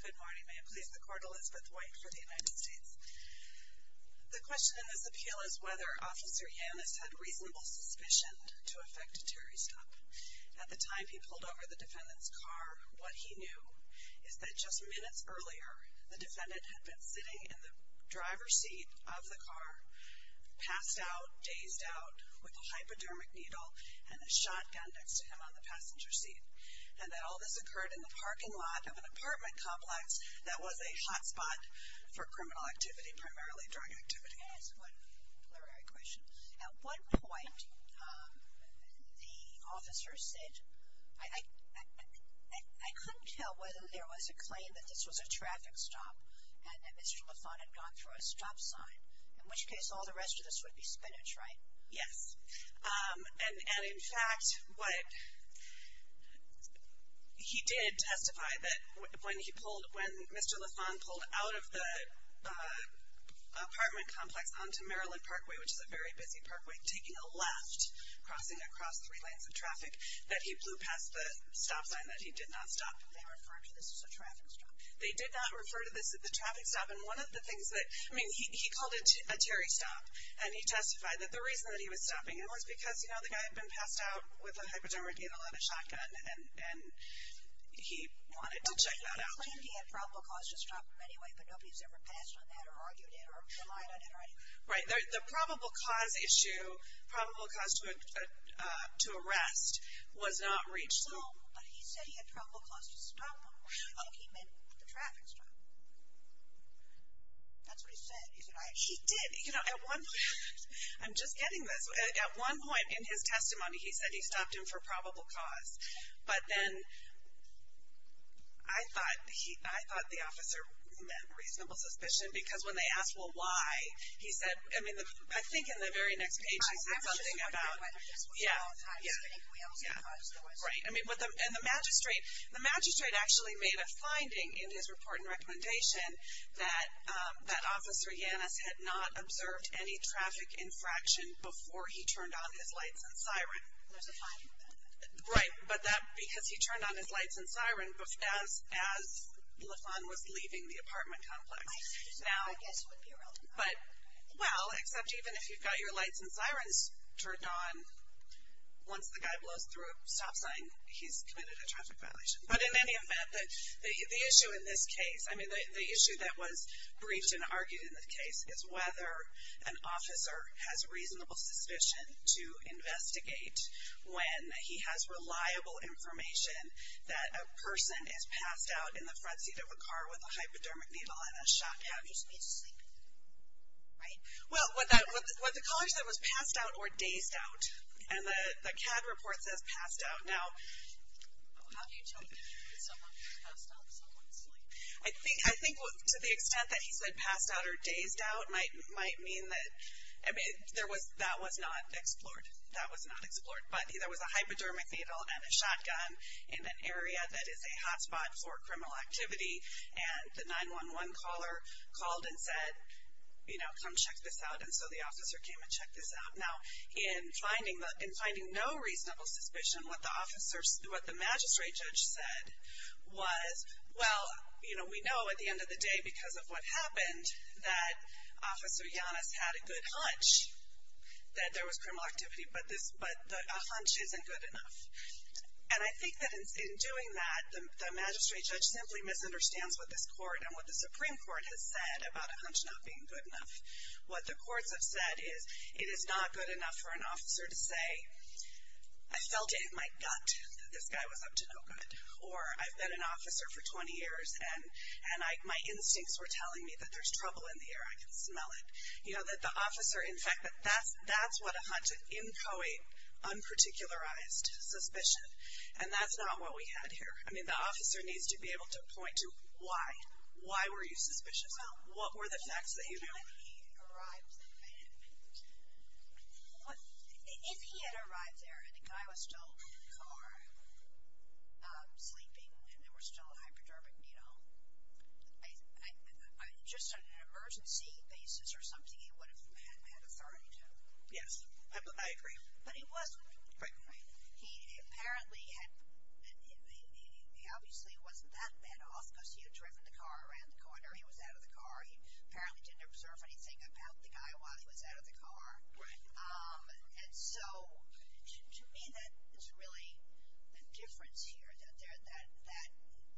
Good morning. May it please the Court, Elizabeth White for the United States. The question in this appeal is whether Officer Yannis had reasonable suspicion to affect a Terry stop. At the time he pulled over the defendant's car, what he knew is that just minutes earlier, the defendant had been sitting in the driver's seat of the car, passed out, dazed out, with a hypodermic needle and a shotgun next to him on the passenger seat, and that all this occurred in the parking lot of an apartment complex that was a hotspot for criminal activity, primarily drug activity. Yes, what a plural question. At one point the officer said, I couldn't tell whether there was a claim that this was a traffic stop and that Mr. Lafon had gone through a stop sign, in which case all the rest of this would be spinach, right? Yes. And in fact, he did testify that when he pulled, when Mr. Lafon pulled out of the apartment complex onto Maryland Parkway, which is a very busy parkway, taking a left, crossing across three lanes of traffic, that he blew past the stop sign that he did not stop. Did they refer to this as a traffic stop? They did not refer to this as a traffic stop. And one of the things that, I mean, he called it a Terry stop. And he testified that the reason that he was stopping him was because, you know, the guy had been passed out with a hypodermic needle and a shotgun, and he wanted to check that out. Well, he claimed he had probable cause to stop him anyway, but nobody's ever passed on that or argued it or relied on it or anything. Right. The probable cause issue, probable cause to arrest, was not reached. No, but he said he had probable cause to stop him. I think he meant the traffic stop. That's what he said. He did. You know, at one point, I'm just getting this. At one point in his testimony, he said he stopped him for probable cause. But then I thought the officer meant reasonable suspicion because when they asked, well, why, he said, I mean, I think in the very next page he said something about, yeah, yeah, yeah. Right. And the magistrate actually made a finding in his report and recommendation that Officer Yannis had not observed any traffic infraction before he turned on his lights and siren. There's a finding in that. Right. But that because he turned on his lights and siren as LaFawn was leaving the apartment complex. I guess it would be a relative finding. But, well, except even if you've got your lights and sirens turned on, once the guy blows through a stop sign, he's committed a traffic violation. But in any event, the issue in this case, I mean, the issue that was briefed and argued in the case, is whether an officer has reasonable suspicion to investigate when he has reliable information that a person is passed out in the front seat of a car with a hypodermic needle in a shotgun. He just needs to sleep. Right. Well, what the colleague said was passed out or dazed out. And the CAD report says passed out. Now, I think to the extent that he said passed out or dazed out might mean that, I mean, that was not explored. That was not explored. But there was a hypodermic needle and a shotgun in an area that is a hotspot for criminal activity. And the 911 caller called and said, you know, come check this out. And so the officer came and checked this out. Now, in finding no reasonable suspicion, what the magistrate judge said was, well, you know, we know at the end of the day because of what happened that Officer Giannis had a good hunch that there was criminal activity, but a hunch isn't good enough. And I think that in doing that, the magistrate judge simply misunderstands what this court and what the Supreme Court has said about a hunch not being good enough. What the courts have said is it is not good enough for an officer to say, I felt it in my gut that this guy was up to no good, or I've been an officer for 20 years, and my instincts were telling me that there's trouble in the air. I can smell it. You know, that the officer, in fact, that's what a hunch, an inchoate, unparticularized suspicion. And that's not what we had here. I mean, the officer needs to be able to point to why. Why were you suspicious? What were the facts that you knew? Well, when he arrived, if he had arrived there and the guy was still in the car, sleeping, and they were still hypodermic, you know, just on an emergency basis or something, he would have had that authority to. Yes, I agree. But he wasn't. Right. He apparently had, he obviously wasn't that bad off because he had driven the car around the corner. He was out of the car. He apparently didn't observe anything about the guy while he was out of the car. Right. And so, to me, that is really the difference here, that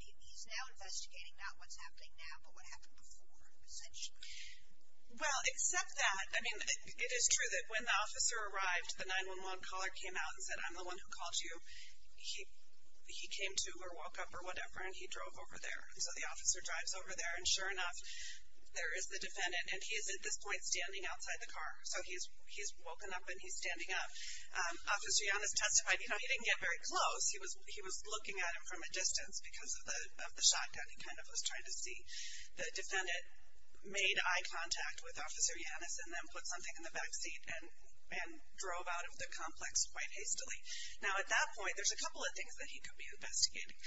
he's now investigating not what's happening now, but what happened before, essentially. Well, except that, I mean, it is true that when the officer arrived, the 911 caller came out and said, I'm the one who called you. He came to, or woke up, or whatever, and he drove over there. And so, the officer drives over there, and sure enough, there is the defendant, and he is at this point standing outside the car. So, he's woken up and he's standing up. Officer Yannis testified, you know, he didn't get very close. He was looking at him from a distance because of the shotgun. He kind of was trying to see. The defendant made eye contact with Officer Yannis and then put something in the back seat and drove out of the complex quite hastily. Now, at that point, there's a couple of things that he could be investigating.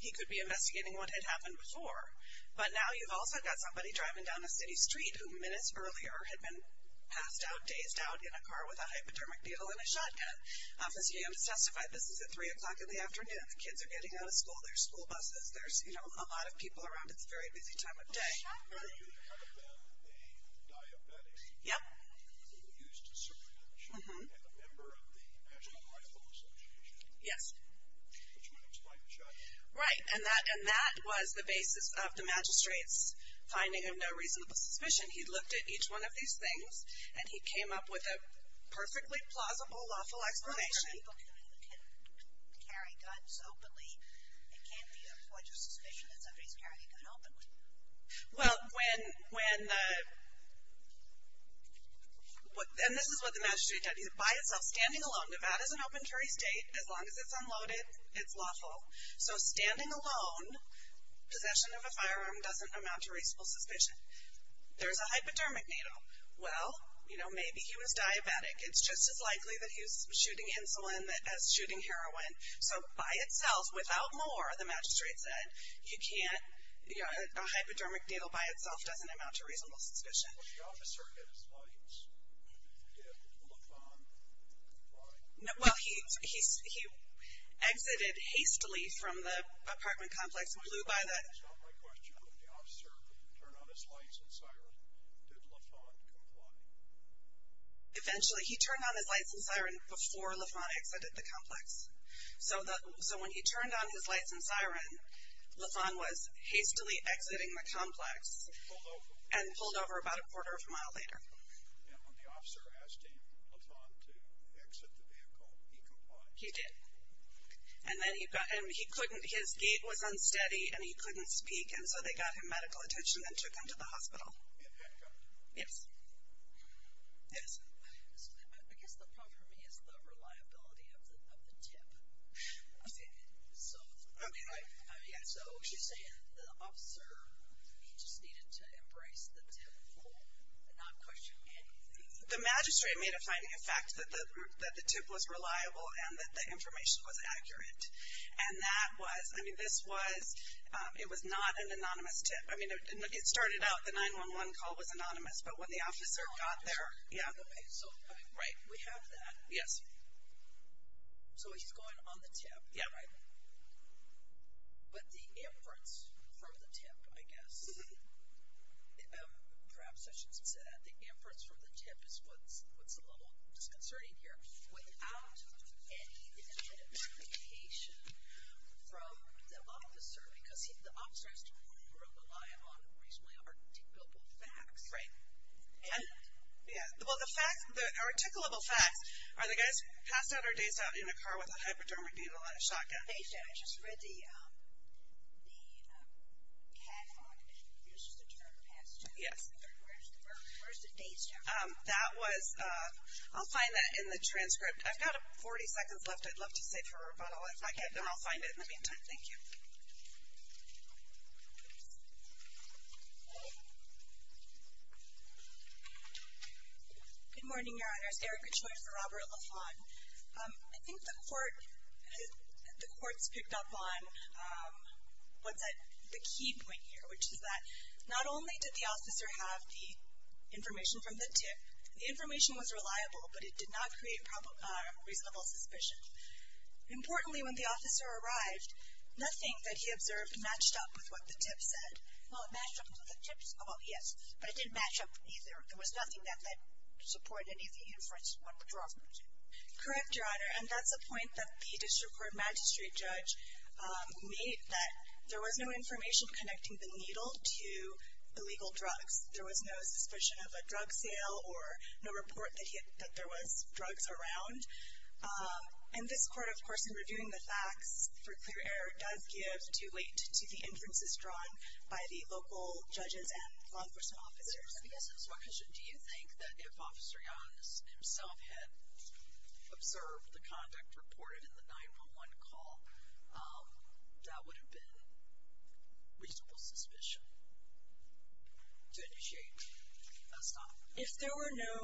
He could be investigating what had happened before. But now, you've also got somebody driving down a city street who minutes earlier had been passed out, dazed out in a car with a hypodermic needle and a shotgun. Officer Yannis testified, this is at 3 o'clock in the afternoon. The kids are getting out of school. There's school buses. There's, you know, a lot of people around. It's a very busy time of day. Yes. Yes. Right. And that was the basis of the magistrate's finding of no reasonable suspicion. He looked at each one of these things and he came up with a perfectly plausible, lawful explanation. But you can't carry guns openly. It can't be a point of suspicion that somebody's carrying a gun openly. Well, when the, and this is what the magistrate did. By itself, standing alone, Nevada's an open carry state. As long as it's unloaded, it's lawful. So, standing alone, possession of a firearm doesn't amount to reasonable suspicion. There's a hypodermic needle. Well, you know, maybe he was diabetic. It's just as likely that he was shooting insulin as shooting heroin. So, by itself, without more, the magistrate said, you can't, you know, a hypodermic needle by itself doesn't amount to reasonable suspicion. When the officer hit his lights, did Lafon comply? Well, he exited hastily from the apartment complex, blew by the. That's not my question. When the officer turned on his lights and sirened, did Lafon comply? Eventually. He turned on his lights and siren before Lafon exited the complex. So, when he turned on his lights and siren, Lafon was hastily exiting the complex. And pulled over about a quarter of a mile later. And when the officer asked him, Lafon, to exit the vehicle, he complied? He did. And then he couldn't, his gait was unsteady and he couldn't speak. And so, they got him medical attention and took him to the hospital. Yes? Yes? I guess the problem for me is the reliability of the tip. So, I mean, so, you're saying the officer, he just needed to embrace the tip and not question anything? The magistrate made a finding, in fact, that the tip was reliable and that the information was accurate. And that was, I mean, this was, it was not an anonymous tip. I mean, it started out, the 911 call was anonymous. But when the officer got there, yeah. Okay. So, we have that. Yes. So, he's going on the tip. Yeah. Right? But the inference from the tip, I guess, perhaps I shouldn't say that, the inference from the tip is what's a little disconcerting here. Without any identification from the officer, because the officer has to rely on reasonably articulable facts. Right. Yeah. Well, the fact, the articulable facts are the guys passed out or dazed out in a car with a hypodermic needle and a shotgun. Dazed out. I just read the cat on it uses the term passed out. Yes. Where's the dazed out? That was, I'll find that in the transcript. I've got 40 seconds left. I'd love to save for a rebuttal. If I can't, then I'll find it in the meantime. Thank you. Good morning, Your Honors. Erica Choi for Robert LaFawn. I think the court's picked up on what's the key point here, which is that not only did the officer have the information from the tip, the information was reliable, but it did not create reasonable suspicion. Importantly, when the officer arrived, nothing that he observed matched up with what the tip said. Well, it matched up with what the tip said. Well, yes, but it didn't match up either. There was nothing that supported any of the inference when the drug was used. Correct, Your Honor. And that's the point that the district court magistrate judge made, that there was no information connecting the needle to the legal drugs. There was no suspicion of a drug sale or no report that there was drugs around. And this court, of course, in reviewing the facts for clear error, does give due weight to the inferences drawn by the local judges and law enforcement officers. I guess it's my question. Do you think that if Officer Yones himself had observed the conduct reported in the 911 call, that would have been reasonable suspicion? To initiate a stop. If there were no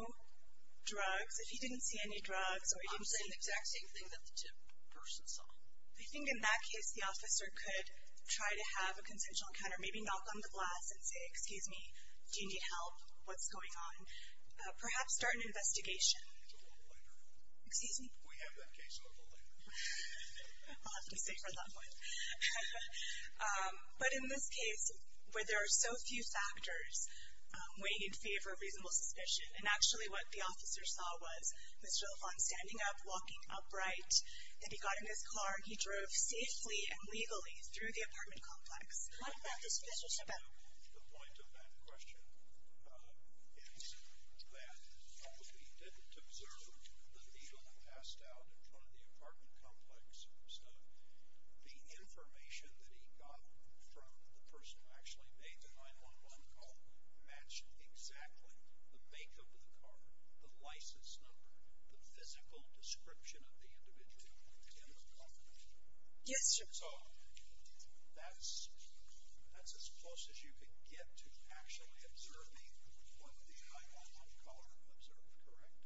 drugs, if he didn't see any drugs, or he didn't see anything. I'm saying the exact same thing that the tip person saw. I think in that case, the officer could try to have a consensual encounter, maybe knock on the glass and say, excuse me, do you need help? What's going on? Perhaps start an investigation. We'll do that later. Excuse me? We have that case available later. I'll have to stay for that one. But in this case, where there are so few factors weighing in favor of reasonable suspicion, and actually what the officer saw was Mr. LaVaughn standing up, walking upright. Then he got in his car and he drove safely and legally through the apartment complex. What is this about? The point of that question is that if he didn't observe the needle passed out in front of the apartment complex, the information that he got from the person who actually made the 911 call matched exactly the makeup of the car, the license number, the physical description of the individual in the car. Yes, sir. So that's as close as you could get to actually observing what the 911 caller observed, correct?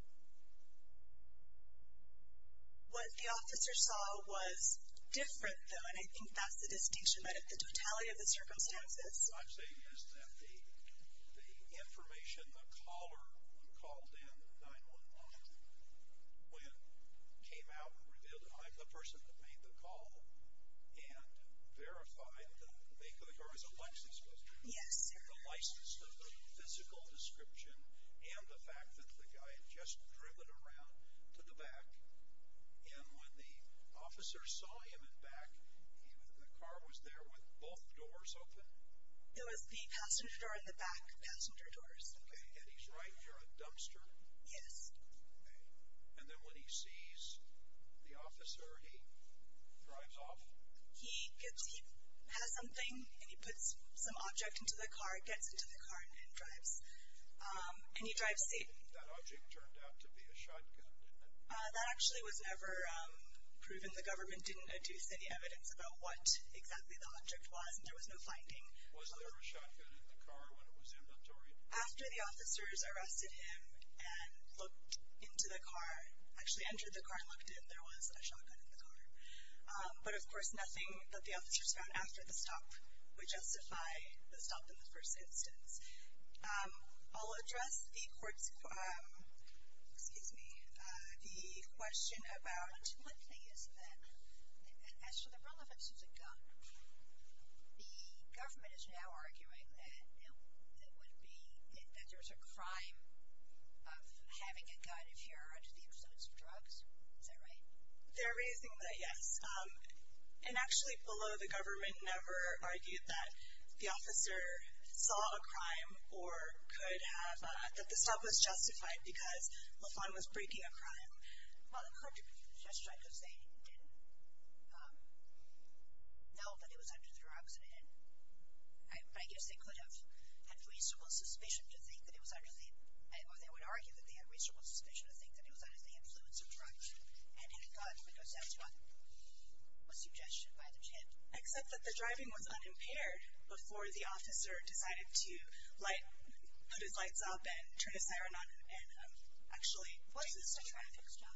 What the officer saw was different, though, and I think that's the distinction. But the totality of the circumstances. What I'm saying is that the information the caller called in, the 911 caller, when came out and revealed, I'm the person who made the call and verified that the makeup of the car was Alexis' car, the license number, the physical description, and the fact that the guy had just driven around to the back. And when the officer saw him in back, the car was there with both doors open? It was the passenger door and the back passenger doors. And he's right, you're a dumpster? Yes. And then when he sees the officer, he drives off? He has something and he puts some object into the car, gets into the car and drives. And he drives safe. That object turned out to be a shotgun, didn't it? That actually was never proven. The government didn't adduce any evidence about what exactly the object was and there was no finding. Was there a shotgun in the car when it was inventory? After the officers arrested him and looked into the car, actually entered the car and looked in, there was a shotgun in the car. But, of course, nothing that the officers found after the stop would have been found in this instance. I'll address the court's, excuse me, the question about. One thing is that as to the relevance of the gun, the government is now arguing that it would be, that there's a crime of having a gun if you're under the influence of drugs. Is that right? They're raising that, yes. And actually below the government never argued that the officer saw a crime or could have, that the stop was justified because Lafon was breaking a crime. Well, it could have been justified because they didn't know that it was under the drugs and I guess they could have had reasonable suspicion to think that it was under the, or they would argue that they had reasonable suspicion to think that it was under the influence of drugs and had a gun because that's what was suggested by the tip. Except that the driving was unimpaired before the officer decided to light, put his lights up and turn his siren on and actually. Was this a traffic stop?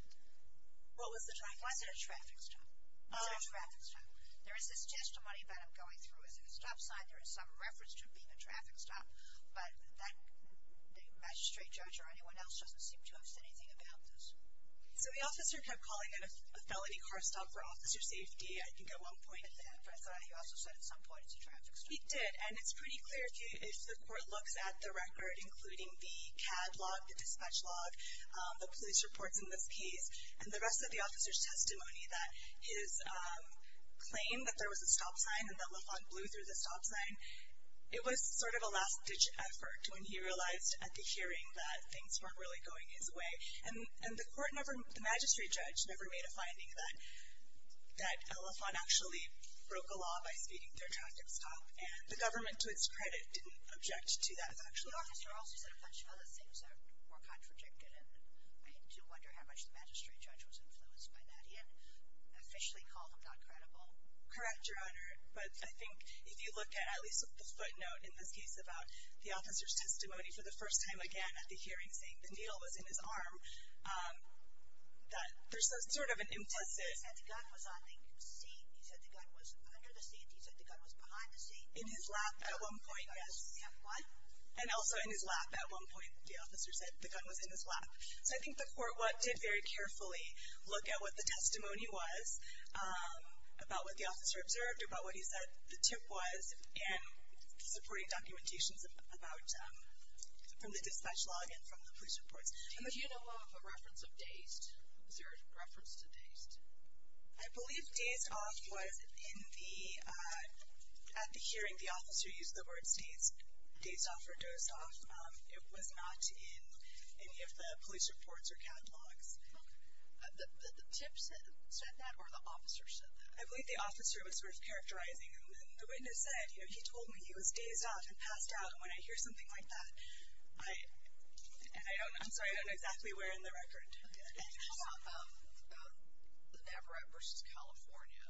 What was the traffic stop? Was it a traffic stop? Was it a traffic stop? There is this testimony that I'm going through as a stop sign. There is some reference to it being a traffic stop, but the magistrate judge or anyone else doesn't seem to have said anything about this. So the officer kept calling it a felony car stop for officer safety, I think at one point. He also said at some point it's a traffic stop. He did, and it's pretty clear if the court looks at the record, including the CAD log, the dispatch log, the police reports in this case, and the rest of the officer's testimony that his claim that there was a stop sign and that Lafon blew through the stop sign, it was sort of a last ditch effort when he realized at the hearing that things weren't really going his way. And the magistrate judge never made a finding that Lafon actually broke a law by speeding through a traffic stop, and the government to its credit didn't object to that factually. The officer also said a bunch of other things that were contradicted, and I do wonder how much the magistrate judge was influenced by that. He had officially called him not credible. Correct, Your Honor. But I think if you look at at least the footnote in this case about the officer's testimony for the first time again at the hearing saying the needle was in his arm, that there's sort of an implicit. He said the gun was on the seat. He said the gun was under the seat. He said the gun was behind the seat. In his lap at one point, yes. And also in his lap at one point the officer said the gun was in his lap. So I think the court did very carefully look at what the testimony was about what the officer observed or about what he said the tip was in supporting about from the dispatch log and from the police reports. Do you know of a reference of dazed? Is there a reference to dazed? I believe dazed off was in the at the hearing the officer used the word dazed off or dozed off. It was not in any of the police reports or catalogs. The tip said that or the officer said that? I believe the officer was sort of characterizing him. The witness said, you know, he told me he was dazed off and passed out. And when I hear something like that, I don't know. I'm sorry, I don't know exactly where in the record. Can you talk about the Everett versus California?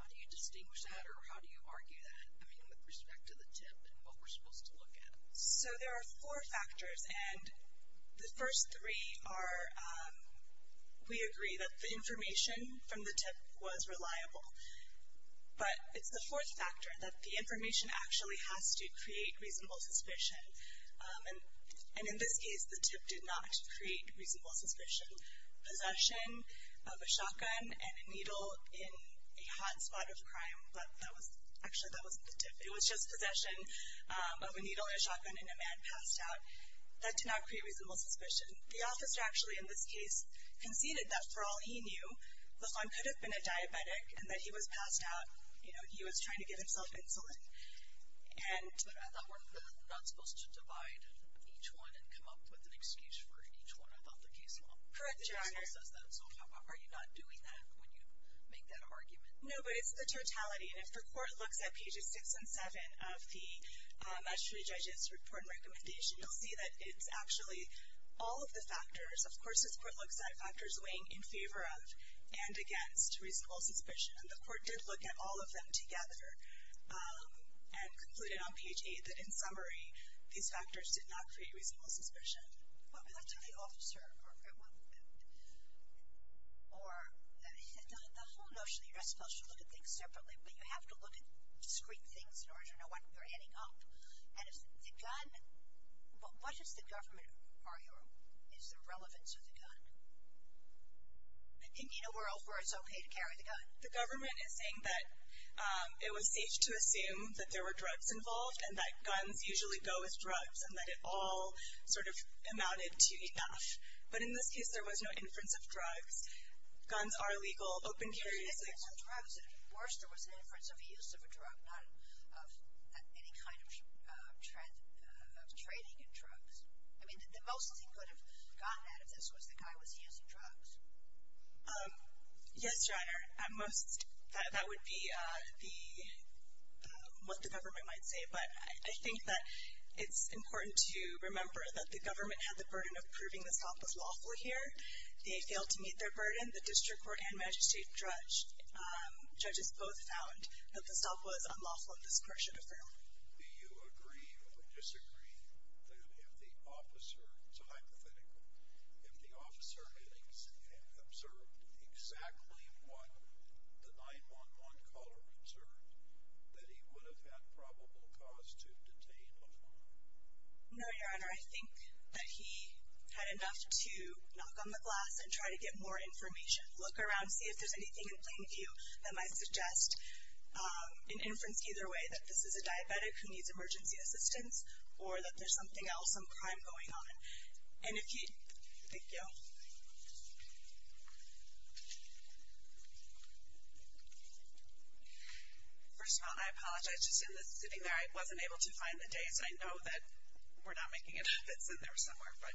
How do you distinguish that or how do you argue that? I mean, with respect to the tip and what we're supposed to look at. So there are four factors. And the first three are we agree that the information from the tip was reliable. But it's the fourth factor that the information actually has to create reasonable suspicion. And in this case, the tip did not create reasonable suspicion. Possession of a shotgun and a needle in a hot spot of crime. Actually, that wasn't the tip. It was just possession of a needle and a shotgun in a man passed out. That did not create reasonable suspicion. The officer actually in this case conceded that for all he knew, Lafon could have been a diabetic and that he was passed out. You know, he was trying to give himself insulin. But I thought we're not supposed to divide each one and come up with an excuse for each one. I thought the case law says that. So are you not doing that when you make that argument? No, but it's the totality. And if the court looks at pages six and seven of the mastery judge's report and recommendation, you'll see that it's actually all of the factors. Of course, this court looks at factors weighing in favor of and against reasonable suspicion. And the court did look at all of them together and concluded on page eight that, in summary, these factors did not create reasonable suspicion. But let's say the officer or the whole notion that you're supposed to look at things separately, but you have to look at discrete things in order to know what you're adding up. And if the gun, what does the government argue is the relevance of the gun? In a world where it's okay to carry the gun. The government is saying that it was safe to assume that there were drugs involved and that guns usually go with drugs and that it all sort of amounted to enough. But in this case, there was no inference of drugs. Guns are legal. Drugs, of course, there was an inference of the use of a drug, not of any kind of trading in drugs. I mean, the most he could have gotten out of this was the guy was using drugs. Yes, Your Honor. At most, that would be what the government might say. But I think that it's important to remember that the government had the burden of proving the stop was lawful here. They failed to meet their burden. And the district court and magistrate judge, judges both found that the stop was unlawful and this court should affirm. Do you agree or disagree that if the officer, it's a hypothetical, if the officer had observed exactly what the 911 caller observed, that he would have had probable cause to detain before? No, Your Honor. I think that he had enough to knock on the glass and try to get more information. Look around, see if there's anything in plain view that might suggest an inference either way, that this is a diabetic who needs emergency assistance or that there's something else, some crime going on. And if he, thank you. First of all, I apologize. Just sitting there, I wasn't able to find the dates. I know that we're not making it up. It's in there somewhere. But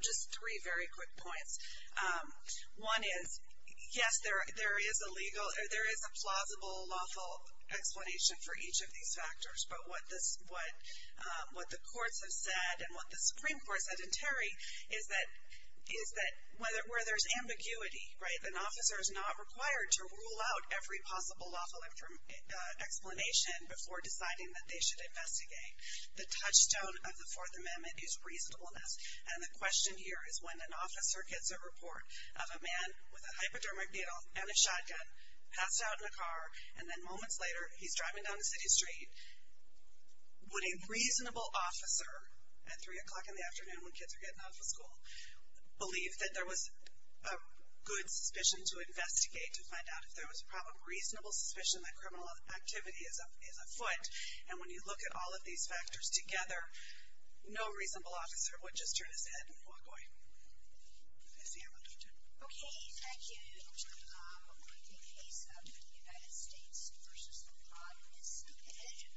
just three very quick points. One is, yes, there is a legal, there is a plausible lawful explanation for each of these factors. But what the courts have said and what the Supreme Court said in Terry is that where there's ambiguity, right, an officer is not required to rule out every possible lawful explanation before deciding that they should investigate. The touchstone of the Fourth Amendment is reasonableness. And the question here is when an officer gets a report of a man with a hypodermic needle and a shotgun, passed out in a car, and then moments later, he's driving down a city street, would a reasonable officer at 3 o'clock in the afternoon when kids are getting off of school, believe that there was a good suspicion to investigate to find out if there was probable, reasonable suspicion that criminal activity is afoot. And when you look at all of these factors together, no reasonable officer would just turn his head and walk away. I see you have a question. Okay. Thank you. We're going to take a case of the United States v. the Progressive Division.